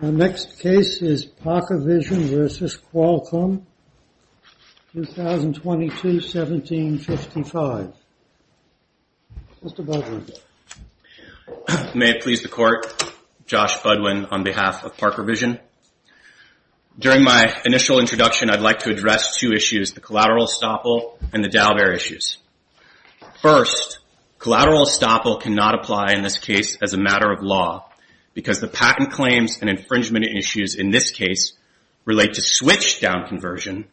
The next case is ParkerVision v. Qualcomm, 2022-1755. Mr. Budwin. May it please the Court, Josh Budwin on behalf of ParkerVision. During my initial introduction, I'd like to address two issues, the collateral estoppel and the Dalbert issues. First, collateral estoppel cannot apply in this case as a matter of law because the patent claims and infringement issues in this case relate to switch-down conversion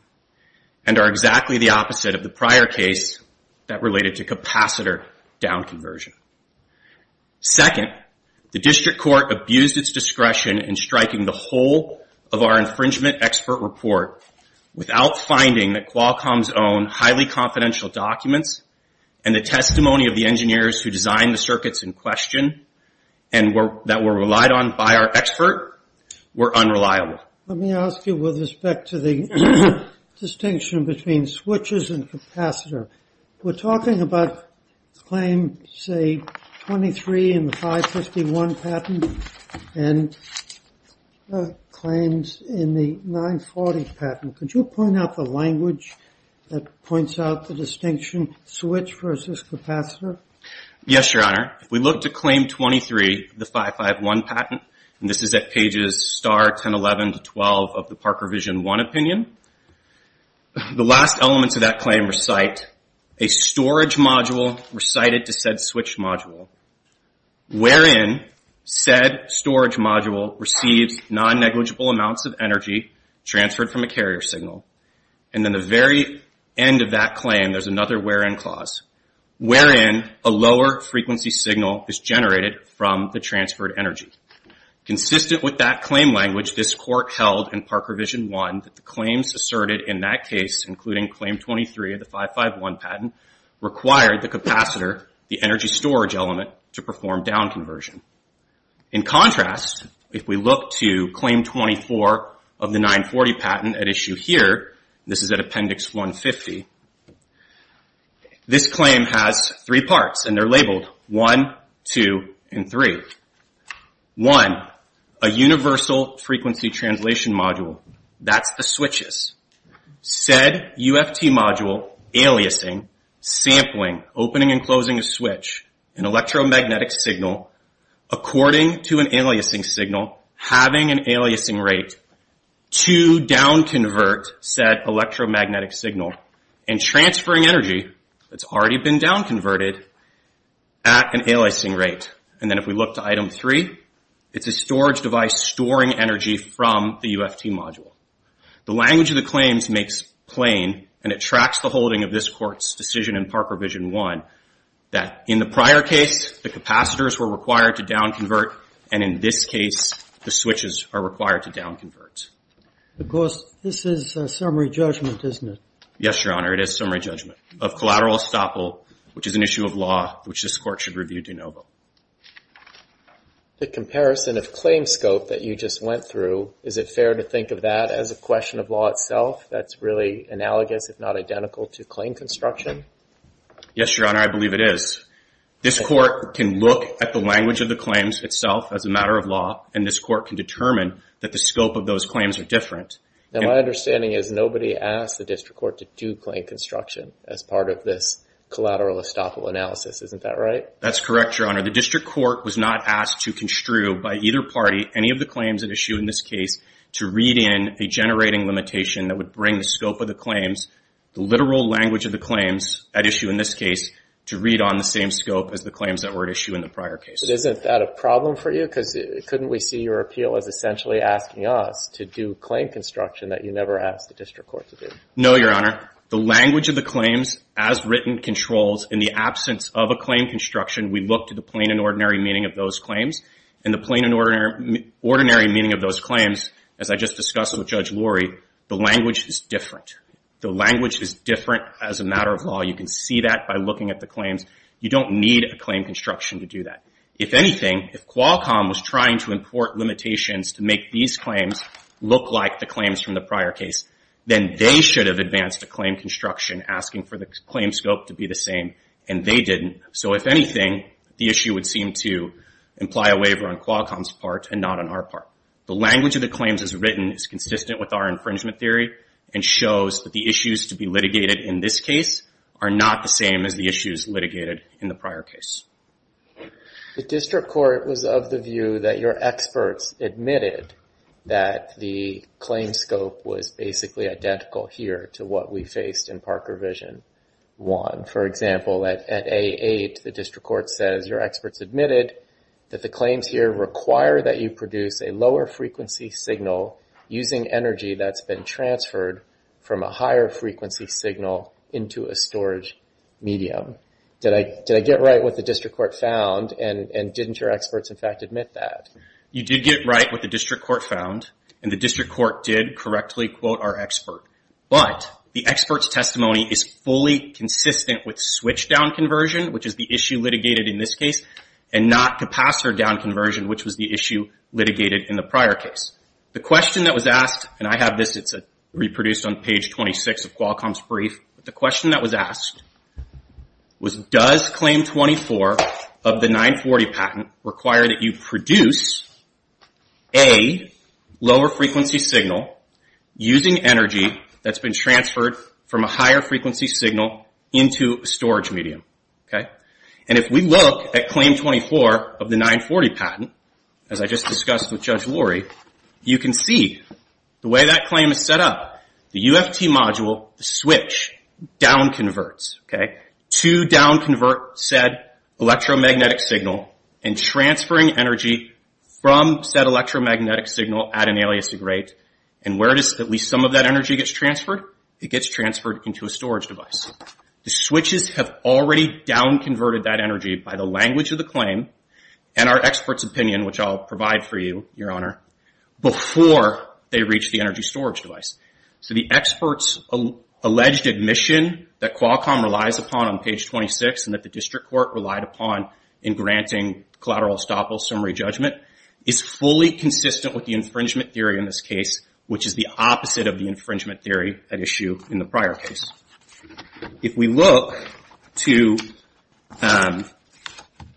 and are exactly the opposite of the prior case that related to capacitor-down conversion. Second, the District Court abused its discretion in striking the whole of our infringement expert report without finding that Qualcomm's own highly confidential documents and the testimony of the engineers who designed the circuits in question and that were relied on by our expert were unreliable. Let me ask you with respect to the distinction between switches and capacitor. We're talking about claim, say, 23 in the 551 patent and claims in the 940 patent. Yes, Your Honor. If we look to claim 23 of the 551 patent, and this is at pages star, 1011 to 12 of the ParkerVision 1 opinion, the last elements of that claim recite, a storage module recited to said switch module, wherein said storage module receives non-negligible amounts of energy transferred from a carrier signal, and then the very end of that claim there's another wherein clause, wherein a lower frequency signal is generated from the transferred energy. Consistent with that claim language, this Court held in ParkerVision 1 that the claims asserted in that case, including claim 23 of the 551 patent, required the capacitor, the energy storage element, to perform down conversion. In contrast, if we look to claim 24 of the 940 patent at issue here, this is at appendix 150, this claim has three parts, and they're labeled 1, 2, and 3. One, a universal frequency translation module. That's the switches. Said UFT module aliasing, sampling, opening and closing a switch, an electromagnetic signal, according to an aliasing signal, having an aliasing rate to down convert said electromagnetic signal and transferring energy that's already been down converted at an aliasing rate. And then if we look to item 3, it's a storage device storing energy from the UFT module. The language of the claims makes plain, and it tracks the holding of this Court's decision in ParkerVision 1, that in the prior case, the capacitors were required to down convert, and in this case, the switches are required to down convert. Of course, this is summary judgment, isn't it? Yes, Your Honor, it is summary judgment of collateral estoppel, which is an issue of law which this Court should review de novo. The comparison of claim scope that you just went through, is it fair to think of that as a question of law itself, that's really analogous, if not identical, to claim construction? Yes, Your Honor, I believe it is. This Court can look at the language of the claims itself as a matter of law, and this Court can determine that the scope of those claims are different. Now, my understanding is nobody asked the District Court to do claim construction as part of this collateral estoppel analysis, isn't that right? That's correct, Your Honor. The District Court was not asked to construe by either party any of the claims at issue in this case to read in a generating limitation that would bring the scope of the claims, the literal language of the claims at issue in this case, to read on the same scope as the claims that were at issue in the prior cases. But isn't that a problem for you? Because couldn't we see your appeal as essentially asking us to do claim construction that you never asked the District Court to do? No, Your Honor. The language of the claims as written controls, in the absence of a claim construction, we look to the plain and ordinary meaning of those claims, and the plain and ordinary meaning of those claims, as I just discussed with Judge Lurie, the language is different. The language is different as a matter of law. You can see that by looking at the claims. You don't need a claim construction to do that. If anything, if Qualcomm was trying to import limitations to make these claims look like the claims from the prior case, then they should have advanced a claim construction asking for the claim scope to be the same, and they didn't. So if anything, the issue would seem to imply a waiver on Qualcomm's part and not on our part. The language of the claims as written is consistent with our infringement theory and shows that the issues to be litigated in this case are not the same as the issues litigated in the prior case. The District Court was of the view that your experts admitted that the claim scope was basically identical here to what we faced in Parker vision 1. For example, at A8, the District Court says your experts admitted that the claims here require that you produce a lower frequency signal using energy that's been transferred from a higher frequency signal into a storage medium. Did I get right what the District Court found, and didn't your experts in fact admit that? You did get right what the District Court found, and the District Court did correctly quote our expert. But the expert's testimony is fully consistent with switchdown conversion, which is the issue litigated in this case, and not capacitor down conversion, which was the issue litigated in the prior case. The question that was asked, and I have this. It's reproduced on page 26 of Qualcomm's brief. The question that was asked was, does Claim 24 of the 940 patent require that you produce a lower frequency signal using energy that's been transferred from a higher frequency signal into a storage medium? If we look at Claim 24 of the 940 patent, as I just discussed with Judge Lurie, you can see the way that claim is set up, the UFT module, the switch, down converts. To down convert said electromagnetic signal and transferring energy from said electromagnetic signal at an aliasing rate. And where does at least some of that energy get transferred? It gets transferred into a storage device. The switches have already down converted that energy by the language of the claim, and our expert's opinion, which I'll provide for you, Your Honor, before they reach the energy storage device. So the expert's alleged admission that Qualcomm relies upon on page 26 and that the district court relied upon in granting collateral estoppel summary judgment is fully consistent with the infringement theory in this case, which is the opposite of the infringement theory at issue in the prior case. If we look to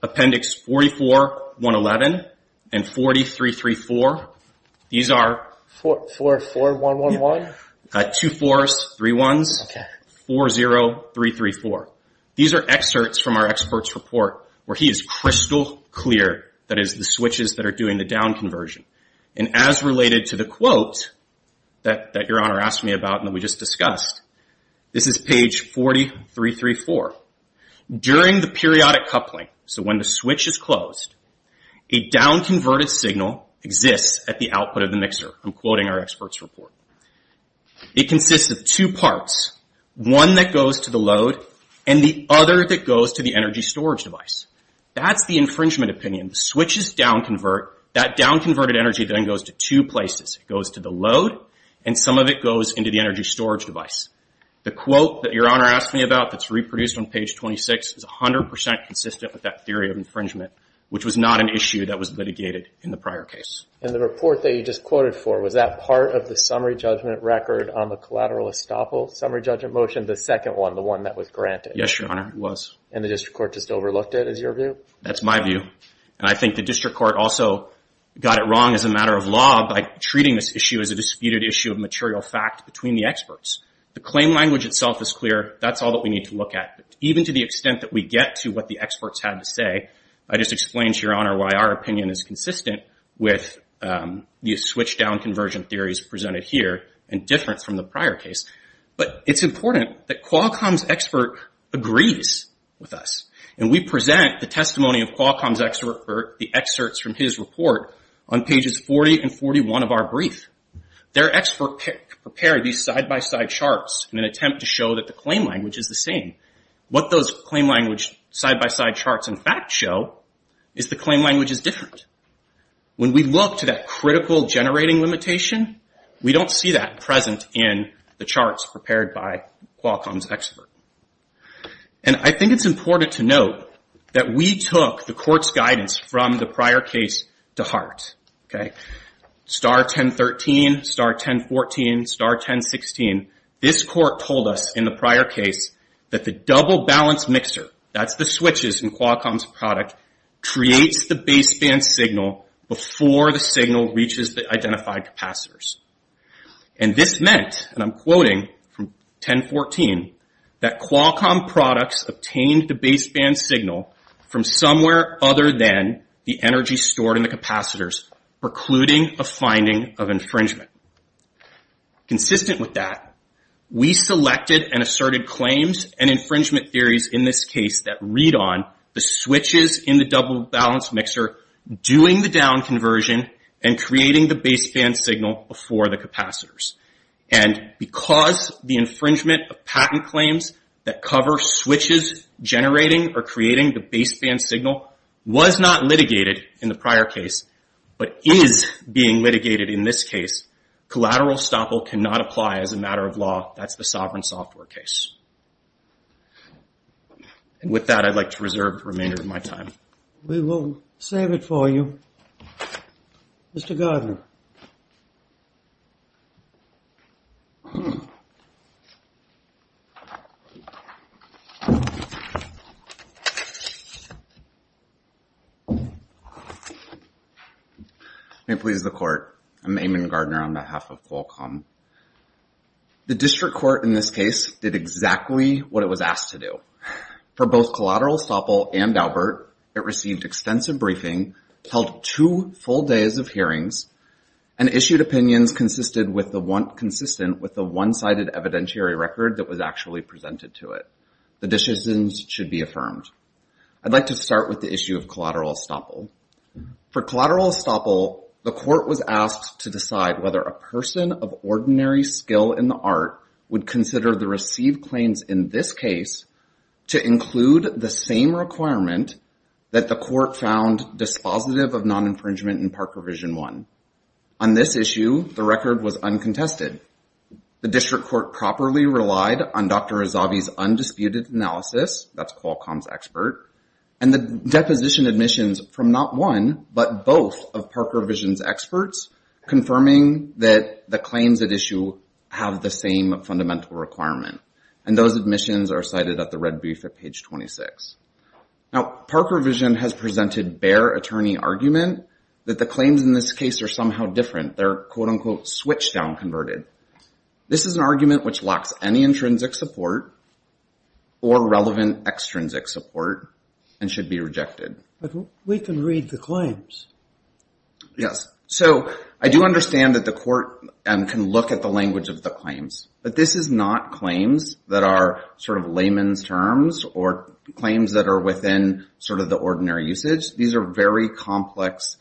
Appendix 44111 and 4334, these are... 444111? Two 4s, three 1s, 40334. These are excerpts from our expert's report where he is crystal clear that it is the switches that are doing the down conversion. And as related to the quote that Your Honor asked me about and that we just discussed, this is page 4334. During the periodic coupling, so when the switch is closed, a down converted signal exists at the output of the mixer. I'm quoting our expert's report. It consists of two parts, one that goes to the load and the other that goes to the energy storage device. That's the infringement opinion. The switches down convert. That down converted energy then goes to two places. It goes to the load and some of it goes into the energy storage device. The quote that Your Honor asked me about that's reproduced on page 26 is 100% consistent with that theory of infringement, which was not an issue that was litigated in the prior case. And the report that you just quoted for, was that part of the summary judgment record on the collateral estoppel summary judgment motion, the second one, the one that was granted? Yes, Your Honor, it was. And the district court just overlooked it is your view? That's my view. And I think the district court also got it wrong as a matter of law by treating this issue as a disputed issue of material fact between the experts. The claim language itself is clear. That's all that we need to look at. Even to the extent that we get to what the experts had to say, I just explained to Your Honor why our opinion is consistent with the switch down conversion theories presented here and different from the prior case. But it's important that Qualcomm's expert agrees with us. And we present the testimony of Qualcomm's expert, the excerpts from his report on pages 40 and 41 of our brief. Their expert prepared these side-by-side charts in an attempt to show that the claim language is the same. What those claim language side-by-side charts in fact show is the claim language is different. When we look to that critical generating limitation, we don't see that present in the charts prepared by Qualcomm's expert. And I think it's important to note that we took the court's guidance from the prior case to heart. Star 1013, star 1014, star 1016, this court told us in the prior case that the double balance mixer, that's the switches in Qualcomm's product, creates the baseband signal before the signal reaches the identified capacitors. And this meant, and I'm quoting from 1014, that Qualcomm products obtained the baseband signal from somewhere other than the energy stored in the capacitors, precluding a finding of infringement. Consistent with that, we selected and asserted claims and infringement theories in this case that read on the switches in the double balance mixer doing the down conversion and creating the baseband signal before the capacitors. And because the infringement of patent claims that cover switches generating or creating the baseband signal was not litigated in the prior case, but is being litigated in this case, collateral estoppel cannot apply as a matter of law. That's the sovereign software case. And with that, I'd like to reserve the remainder of my time. We will save it for you. Mr. Gardner. May it please the court. I'm Eamon Gardner on behalf of Qualcomm. The district court in this case did exactly what it was asked to do. For both collateral estoppel and Albert, it received extensive briefing, held two full days of hearings, and issued opinions consistent with the one-sided evidentiary record that was actually presented to it. The decisions should be affirmed. I'd like to start with the issue of collateral estoppel. For collateral estoppel, the court was asked to decide whether a person of ordinary skill in the art would consider the received claims in this case to include the same requirement that the court found dispositive of non-infringement in Parker Vision 1. On this issue, the record was uncontested. The district court properly relied on Dr. Razzavi's undisputed analysis, that's Qualcomm's expert, and the deposition admissions from not one, but both of Parker Vision's experts, confirming that the claims at issue have the same fundamental requirement, and those admissions are cited at the red brief at page 26. Now, Parker Vision has presented bare attorney argument that the claims in this case are somehow different. They're, quote-unquote, switch-down converted. This is an argument which lacks any intrinsic support or relevant extrinsic support and should be rejected. But we can read the claims. Yes. So I do understand that the court can look at the language of the claims, but this is not claims that are sort of layman's terms or claims that are within sort of the ordinary usage. These are very complex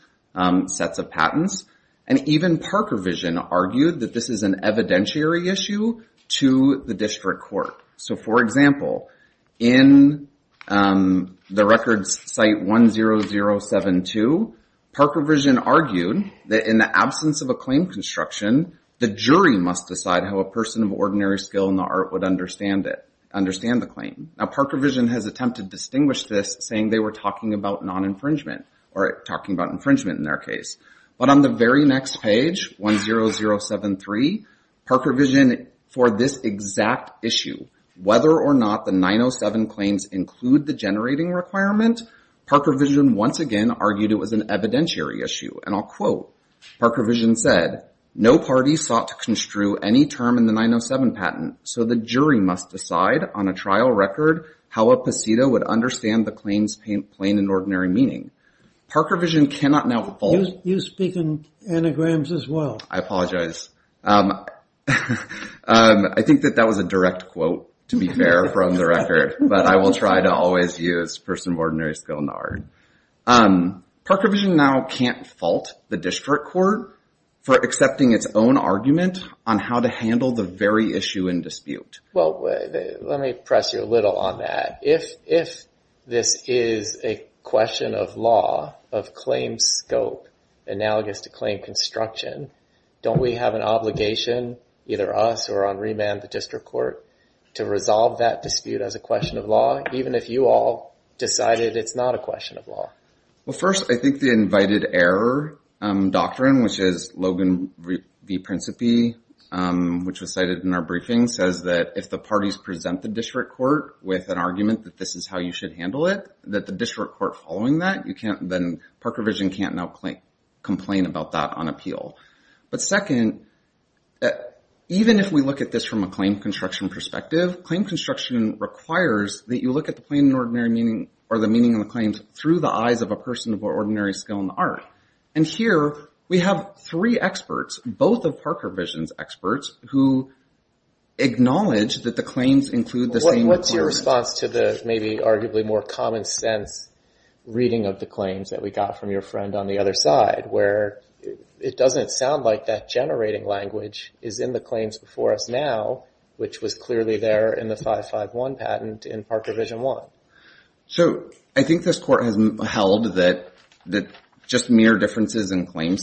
sets of patents, and even Parker Vision argued that this is an evidentiary issue to the district court. So, for example, in the records site 10072, Parker Vision argued that in the absence of a claim construction, the jury must decide how a person of ordinary skill in the art would understand it, understand the claim. Now, Parker Vision has attempted to distinguish this, saying they were talking about non-infringement or talking about infringement in their case. But on the very next page, 10073, Parker Vision, for this exact issue, whether or not the 907 claims include the generating requirement, Parker Vision once again argued it was an evidentiary issue. And I'll quote, Parker Vision said, no party sought to construe any term in the 907 patent, so the jury must decide on a trial record how a pasito would understand the claims plain and ordinary meaning. Parker Vision cannot now withhold... You speak in anagrams as well. I apologize. I think that that was a direct quote, to be fair, from the record. But I will try to always use person of ordinary skill in the art. Parker Vision now can't fault the district court for accepting its own argument on how to handle the very issue in dispute. Well, let me press you a little on that. If this is a question of law, of claim scope, analogous to claim construction, don't we have an obligation, either us or on remand the district court, to resolve that dispute as a question of law, even if you all decided it's not a question of law? Well, first, I think the invited error doctrine, which is Logan v. Principe, which was cited in our briefing, says that if the parties present the district court with an argument that this is how you should handle it, that the district court following that, then Parker Vision can't now complain about that on appeal. But second, even if we look at this from a claim construction perspective, claim construction requires that you look at the plain and ordinary meaning or the meaning of the claims through the eyes of a person of ordinary skill in the art. And here we have three experts, both of Parker Vision's experts, who acknowledge that the claims include the same argument. What's your response to the maybe arguably more common sense reading of the claims that we got from your friend on the other side, where it doesn't sound like that generating language is in the claims before us now, which was clearly there in the 551 patent in Parker Vision 1? So I think this court has held that just mere differences in claim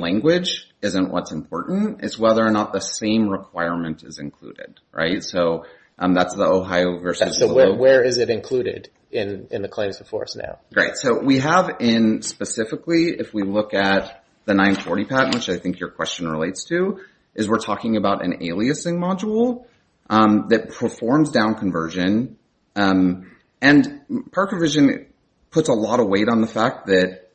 language isn't what's important. It's whether or not the same requirement is included, right? So that's the Ohio versus... So where is it included in the claims before us now? Great. So we have in specifically, if we look at the 940 patent, which I think your question relates to, is we're talking about an aliasing module that performs down conversion. And Parker Vision puts a lot of weight on the fact that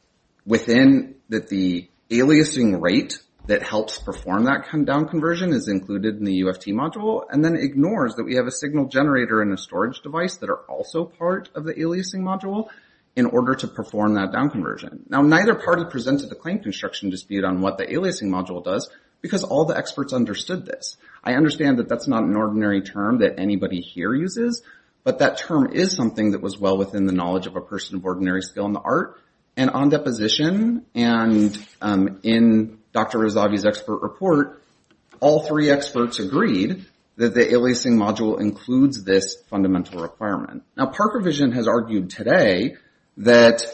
within the aliasing rate that helps perform that down conversion is included in the UFT module and then ignores that we have a signal generator and a storage device that are also part of the aliasing module in order to perform that down conversion. Now, neither party presented the claim construction dispute on what the aliasing module does because all the experts understood this. I understand that that's not an ordinary term that anybody here uses, but that term is something that was well within the knowledge of a person of ordinary skill in the art. And on deposition and in Dr. Razavi's expert report, all three experts agreed that the aliasing module includes this fundamental requirement. Now, Parker Vision has argued today that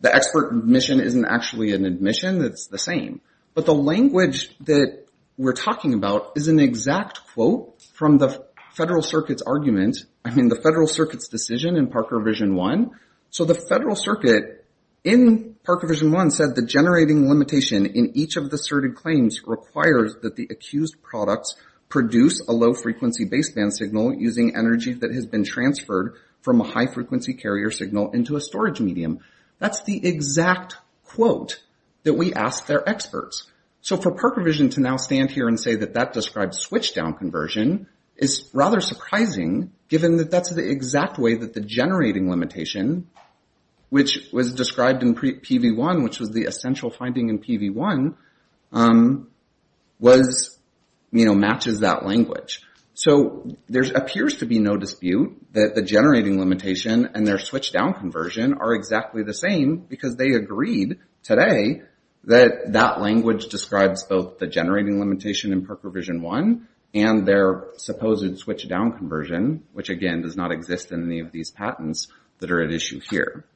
the expert admission isn't actually an admission. It's the same. But the language that we're talking about is an exact quote from the Federal Circuit's argument. I mean, the Federal Circuit's decision in Parker Vision 1. So the Federal Circuit in Parker Vision 1 said the generating limitation in each of the asserted claims requires that the accused products produce a low-frequency baseband signal using energy that has been transferred from a high-frequency carrier signal into a storage medium. That's the exact quote that we asked their experts. So for Parker Vision to now stand here and say that that describes switch-down conversion is rather surprising given that that's the exact way that the generating limitation, which was described in PV1, which was the essential finding in PV1, matches that language. So there appears to be no dispute that the generating limitation and their switch-down conversion are exactly the same because they agreed today that that language describes both the generating limitation in Parker Vision 1 and their supposed switch-down conversion, which, again, does not exist in any of these patents that are at issue here.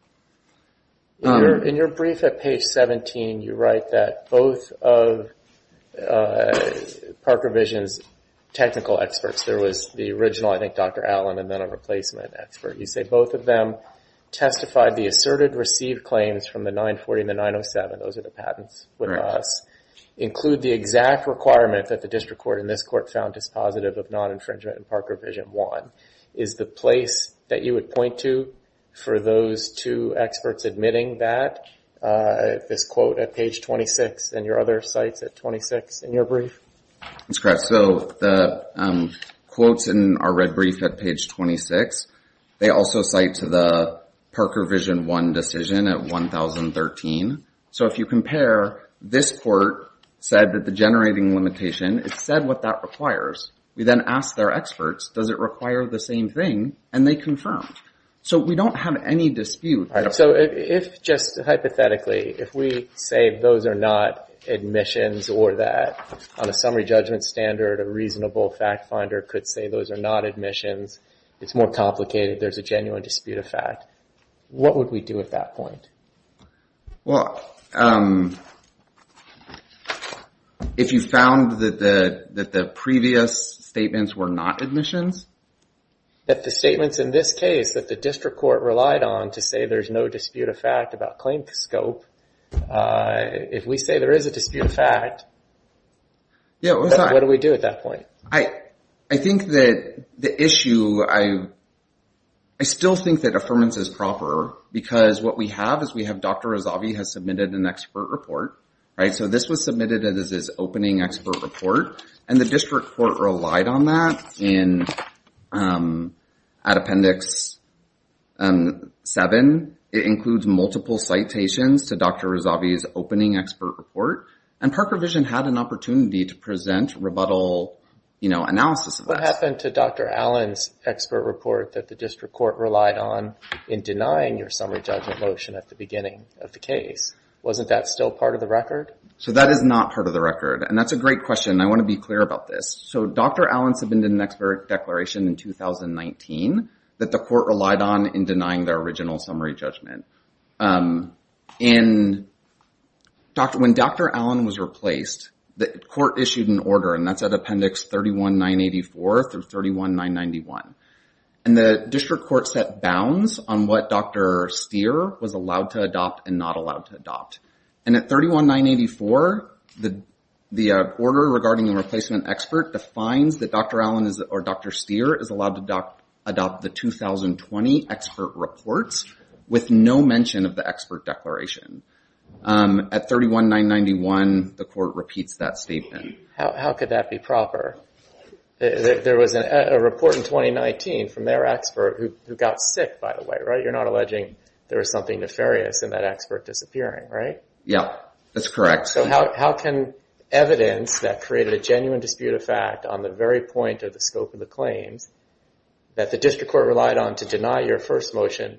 In your brief at page 17, you write that both of Parker Vision's technical experts, there was the original, I think, Dr. Allen, and then a replacement expert. You say both of them testified the asserted received claims from the 940 and the 907. Those are the patents with us. Include the exact requirement that the district court and this court found dispositive of non-infringement in Parker Vision 1. Is the place that you would point to for those two experts admitting that? This quote at page 26, and your other cites at 26 in your brief? That's correct. So the quotes in our red brief at page 26, they also cite to the Parker Vision 1 decision at 1013. So if you compare, this court said that the generating limitation, it said what that requires. We then asked their experts, does it require the same thing? And they confirmed. So we don't have any dispute. All right, so if just hypothetically, if we say those are not admissions or that on a summary judgment standard, a reasonable fact finder could say those are not admissions, it's more complicated, there's a genuine dispute of fact, what would we do at that point? Well, if you found that the previous statements were not admissions? That the statements in this case that the district court relied on to say there's no dispute of fact about claim scope, if we say there is a dispute of fact, what do we do at that point? I think that the issue, I still think that affirmance is proper because what we have is we have Dr. Razavi has submitted an expert report, right? So this was submitted as his opening expert report, and the district court relied on that and at appendix seven, it includes multiple citations to Dr. Razavi's opening expert report, and Park Revision had an opportunity to present rebuttal analysis of that. What happened to Dr. Allen's expert report that the district court relied on in denying your summary judgment motion at the beginning of the case? Wasn't that still part of the record? So that is not part of the record, and that's a great question. I want to be clear about this. So Dr. Allen submitted an expert declaration in 2019 that the court relied on in denying their original summary judgment. When Dr. Allen was replaced, the court issued an order, and that's at appendix 31984 through 31991, and the district court set bounds on what Dr. Stier was allowed to adopt and not allowed to adopt, and at 31984, the order regarding the replacement expert defines that Dr. Allen or Dr. Stier is allowed to adopt the 2020 expert reports with no mention of the expert declaration. At 31991, the court repeats that statement. How could that be proper? There was a report in 2019 from their expert who got sick, by the way, right? You're not alleging there was something nefarious in that expert disappearing, right? Yeah, that's correct. So how can evidence that created a genuine dispute of fact on the very point of the scope of the claims that the district court relied on to deny your first motion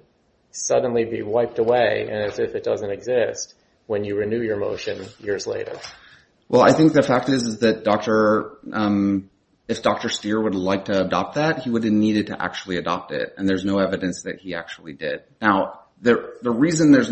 suddenly be wiped away, as if it doesn't exist, when you renew your motion years later? Well, I think the fact is that if Dr. Stier would like to adopt that, he would have needed to actually adopt it, and there's no evidence that he actually did. Now, the reason there's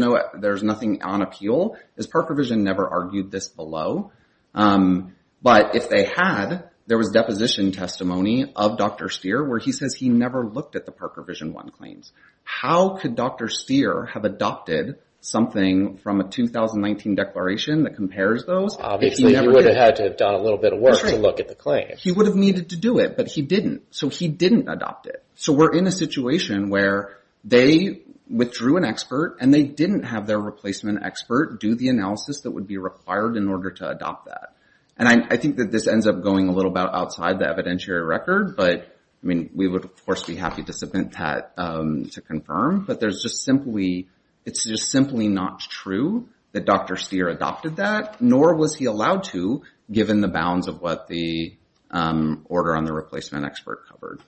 nothing on appeal is Park Revision never argued this below. But if they had, there was deposition testimony of Dr. Stier where he says he never looked at the Park Revision 1 claims. How could Dr. Stier have adopted something from a 2019 declaration that compares those? Obviously, he would have had to have done a little bit of work to look at the claim. That's right. He would have needed to do it, but he didn't, so he didn't adopt it. So we're in a situation where they withdrew an expert and they didn't have their replacement expert do the analysis that would be required in order to adopt that. And I think that this ends up going a little bit outside the evidentiary record, but I mean, we would, of course, be happy to submit that to confirm, but there's just simply, it's just simply not true that Dr. Stier adopted that, nor was he allowed to, given the bounds of what the order on the replacement expert covered.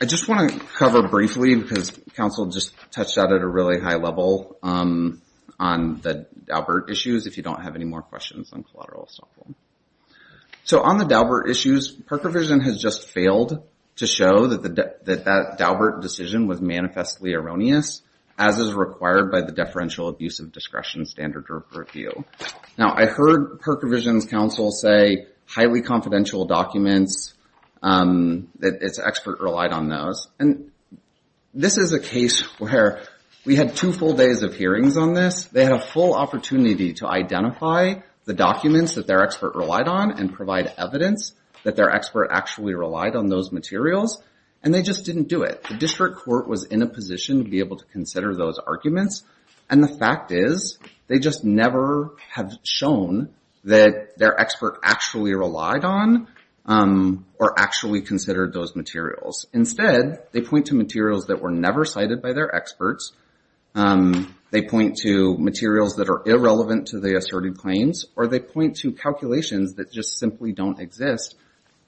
I just want to cover briefly because counsel just touched out at a really high level on the Daubert issues, if you don't have any more questions on collateral assault. So on the Daubert issues, Perkovision has just failed to show that that Daubert decision was manifestly erroneous, as is required by the deferential abuse of discretion standard review. Now, I heard Perkovision's counsel say highly confidential documents, that its expert relied on those, and this is a case where we had two full days of hearings on this. They had a full opportunity to identify the documents that their expert relied on and provide evidence that their expert actually relied on those materials, and they just didn't do it. The district court was in a position to be able to consider those arguments, and the fact is, they just never have shown that their expert actually relied on or actually considered those materials. Instead, they point to materials that were never cited by their experts, they point to materials that are irrelevant to the asserted claims, or they point to calculations that just simply don't exist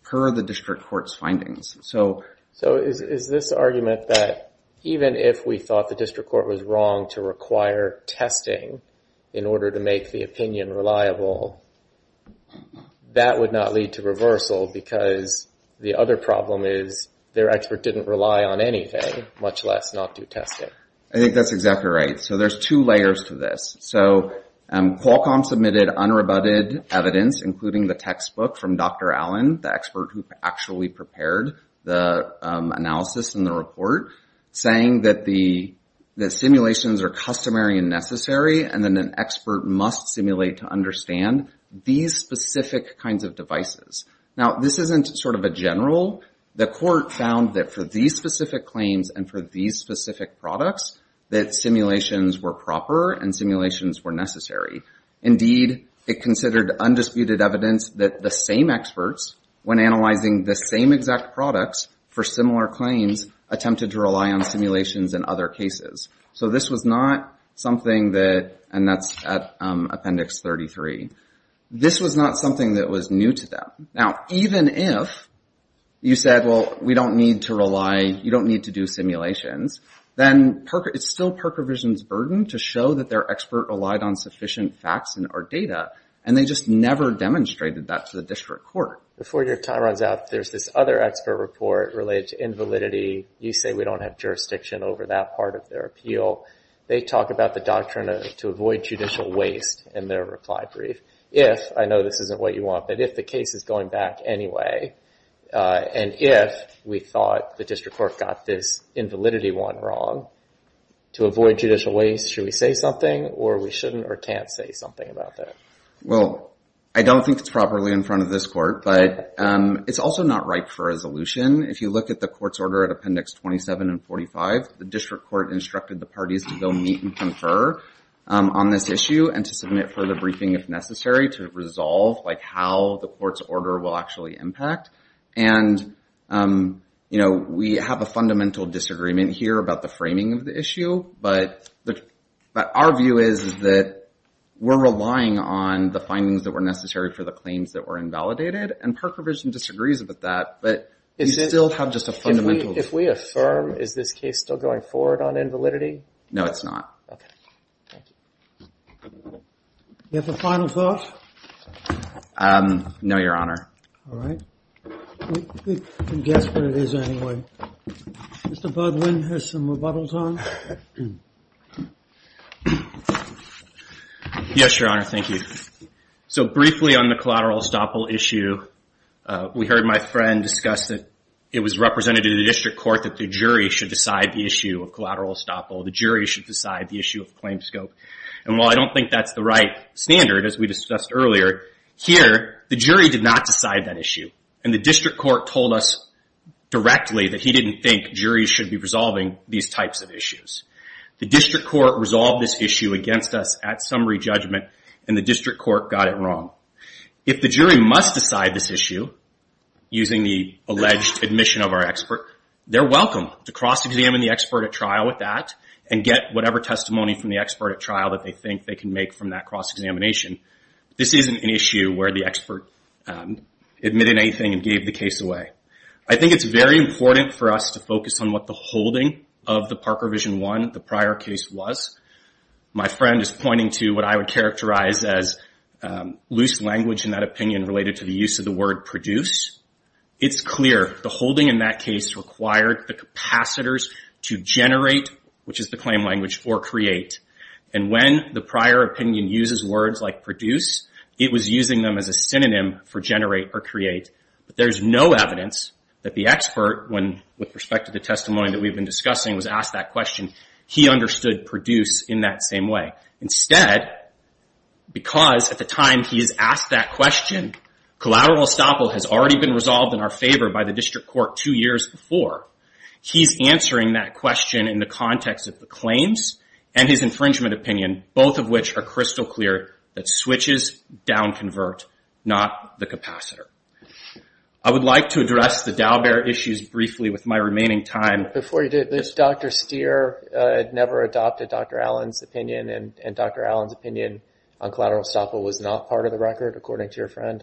per the district court's findings. So is this argument that even if we thought the district court in order to make the opinion reliable, that would not lead to reversal because the other problem is their expert didn't rely on anything, much less not do testing. I think that's exactly right. So there's two layers to this. Qualcomm submitted unrebutted evidence, including the textbook from Dr. Allen, the expert who actually prepared the analysis and the report, saying that simulations are customary and necessary, and that an expert must simulate to understand these specific kinds of devices. Now, this isn't sort of a general. The court found that for these specific claims and for these specific products, that simulations were proper and simulations were necessary. Indeed, it considered undisputed evidence that the same experts, when analyzing the same exact products for similar claims, attempted to rely on simulations in other cases. So this was not something that, and that's at Appendix 33, this was not something that was new to them. Now, even if you said, well, we don't need to rely, you don't need to do simulations, then it's still Perkovision's burden to show that their expert relied on sufficient facts and or data, and they just never demonstrated that to the district court. Before your time runs out, there's this other expert report related to invalidity. You say we don't have jurisdiction over that part of their appeal. They talk about the doctrine to avoid judicial waste in their reply brief. If, I know this isn't what you want, but if the case is going back anyway, and if we thought the district court got this invalidity one wrong, to avoid judicial waste, should we say something, or we shouldn't or can't say something about that? Well, I don't think it's properly in front of this court, but it's also not ripe for resolution. If you look at the court's order at Appendix 27 and 45, the district court instructed the parties to go meet and confer on this issue and to submit further briefing if necessary to resolve how the court's order will actually impact. And we have a fundamental disagreement here about the framing of the issue, but our view is that we're relying on the findings that were necessary for the claims that were invalidated, and Park Revision disagrees with that, but we still have just a fundamental... If we affirm, is this case still going forward on invalidity? No, it's not. Okay, thank you. Do you have a final thought? No, Your Honor. All right. We can guess what it is anyway. Mr. Budwin has some rebuttals on. Yes, Your Honor, thank you. So briefly on the collateral estoppel issue, we heard my friend discuss that it was representative of the district court that the jury should decide the issue of collateral estoppel. The jury should decide the issue of claim scope. And while I don't think that's the right standard, as we discussed earlier, here, the jury did not decide that issue, and the district court told us directly that he didn't think juries should be resolving these types of issues. The district court resolved this issue against us at summary judgment, and the district court got it wrong. If the jury must decide this issue using the alleged admission of our expert, they're welcome to cross-examine the expert at trial with that and get whatever testimony from the expert at trial that they think they can make from that cross-examination. This isn't an issue where the expert admitted anything and gave the case away. I think it's very important for us to focus on what the holding of the Parker Vision 1, the prior case, was. My friend is pointing to what I would characterize as loose language in that opinion related to the use of the word produce. It's clear the holding in that case required the capacitors to generate, which is the claim language, or create. And when the prior opinion uses words like produce, it was using them as a synonym for generate or create. There's no evidence that the expert, with respect to the testimony that we've been discussing, was asked that question. He understood produce in that same way. Instead, because at the time he is asked that question, collateral estoppel has already been resolved in our favor by the district court two years before. He's answering that question in the context of the claims and his infringement opinion, both of which are crystal clear that switches down-convert, not the capacitor. I would like to address the Dalbert issues briefly with my remaining time. Before you do, Dr. Stier never adopted Dr. Allen's opinion, and Dr. Allen's opinion on collateral estoppel was not part of the record, according to your friend.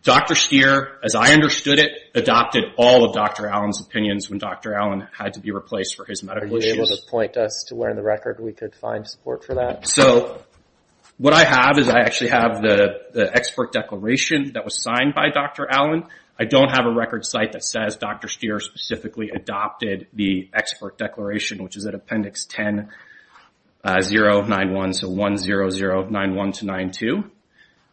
Dr. Stier, as I understood it, adopted all of Dr. Allen's opinions when Dr. Allen had to be replaced for his medical issues. Are you able to point us to where in the record we could find support for that? What I have is I actually have the expert declaration that was signed by Dr. Allen. I don't have a record site that says Dr. Stier specifically adopted the expert declaration, which is at Appendix 10-0-9-1, so 1-0-0-9-1-9-2.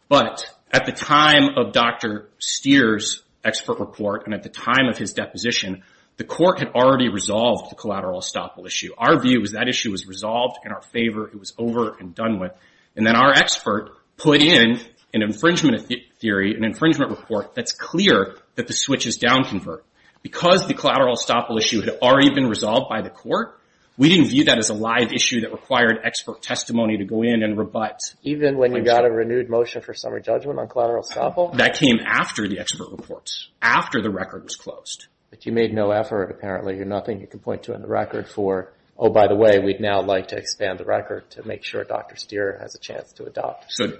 But at the time of Dr. Stier's expert report and at the time of his deposition, the court had already resolved the collateral estoppel issue. Our view was that issue was resolved in our favor. It was over and done with. And then our expert put in an infringement theory, an infringement report that's clear that the switches down-convert. Because the collateral estoppel issue had already been resolved by the court, we didn't view that as a live issue that required expert testimony to go in and rebut. Even when you got a renewed motion for summary judgment on collateral estoppel? That came after the expert reports, after the record was closed. But you made no effort, apparently. You're nothing you can point to in the record for, oh, by the way, we'd now like to expand the record to make sure Dr. Stier has a chance to adopt. So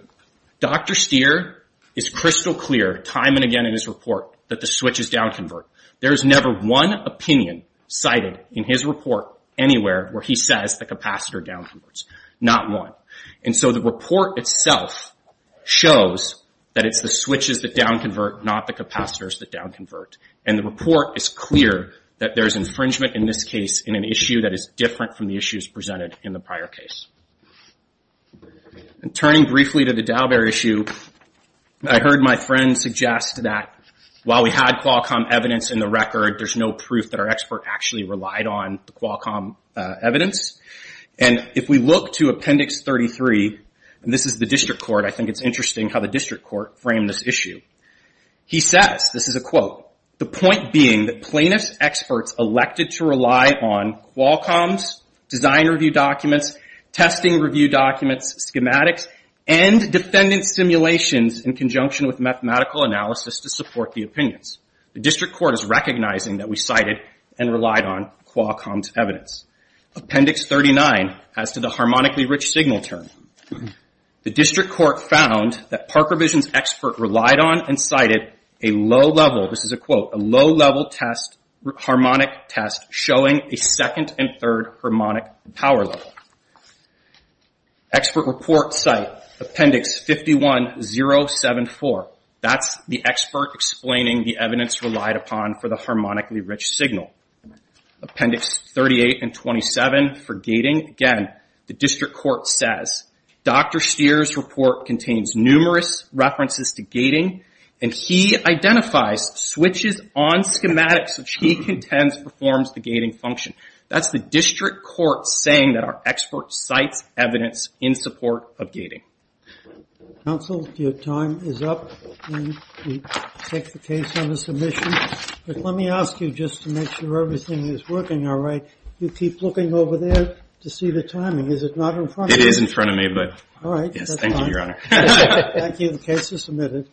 Dr. Stier is crystal clear time and again in his report that the switches down-convert. There is never one opinion cited in his report anywhere where he says the capacitor down-converts, not one. And so the report itself shows that it's the switches that down-convert, not the capacitors that down-convert. And the report is clear that there's infringement in this case in an issue that is different from the issues presented in the prior case. And turning briefly to the Dalbert issue, I heard my friend suggest that while we had Qualcomm evidence in the record, there's no proof that our expert actually relied on the Qualcomm evidence. And if we look to Appendix 33, and this is the district court, I think it's interesting how the district court framed this issue. He says, this is a quote, the point being that plaintiff's experts elected to rely on Qualcomm's design review documents, testing review documents, schematics, and defendant simulations in conjunction with mathematical analysis to support the opinions. The district court is recognizing that we cited and relied on Qualcomm's evidence. Appendix 39, as to the harmonically rich signal term. The district court found that Parker Vision's expert relied on and cited a low-level, this is a quote, a low-level test, harmonic test, showing a second and third harmonic power level. Expert report cite Appendix 51074. That's the expert explaining the evidence relied upon for the harmonically rich signal. Appendix 38 and 27 for gating. Again, the district court says, Dr. Stier's report contains numerous references to gating, and he identifies switches on schematics which he contends performs the gating function. That's the district court saying that our expert cites evidence in support of gating. Counsel, your time is up. We take the case on the submission. Let me ask you just to make sure everything is working all right. You keep looking over there to see the timing. Is it not in front of you? It is in front of me, but... All right. Yes, thank you, Your Honor. Thank you. The case is submitted.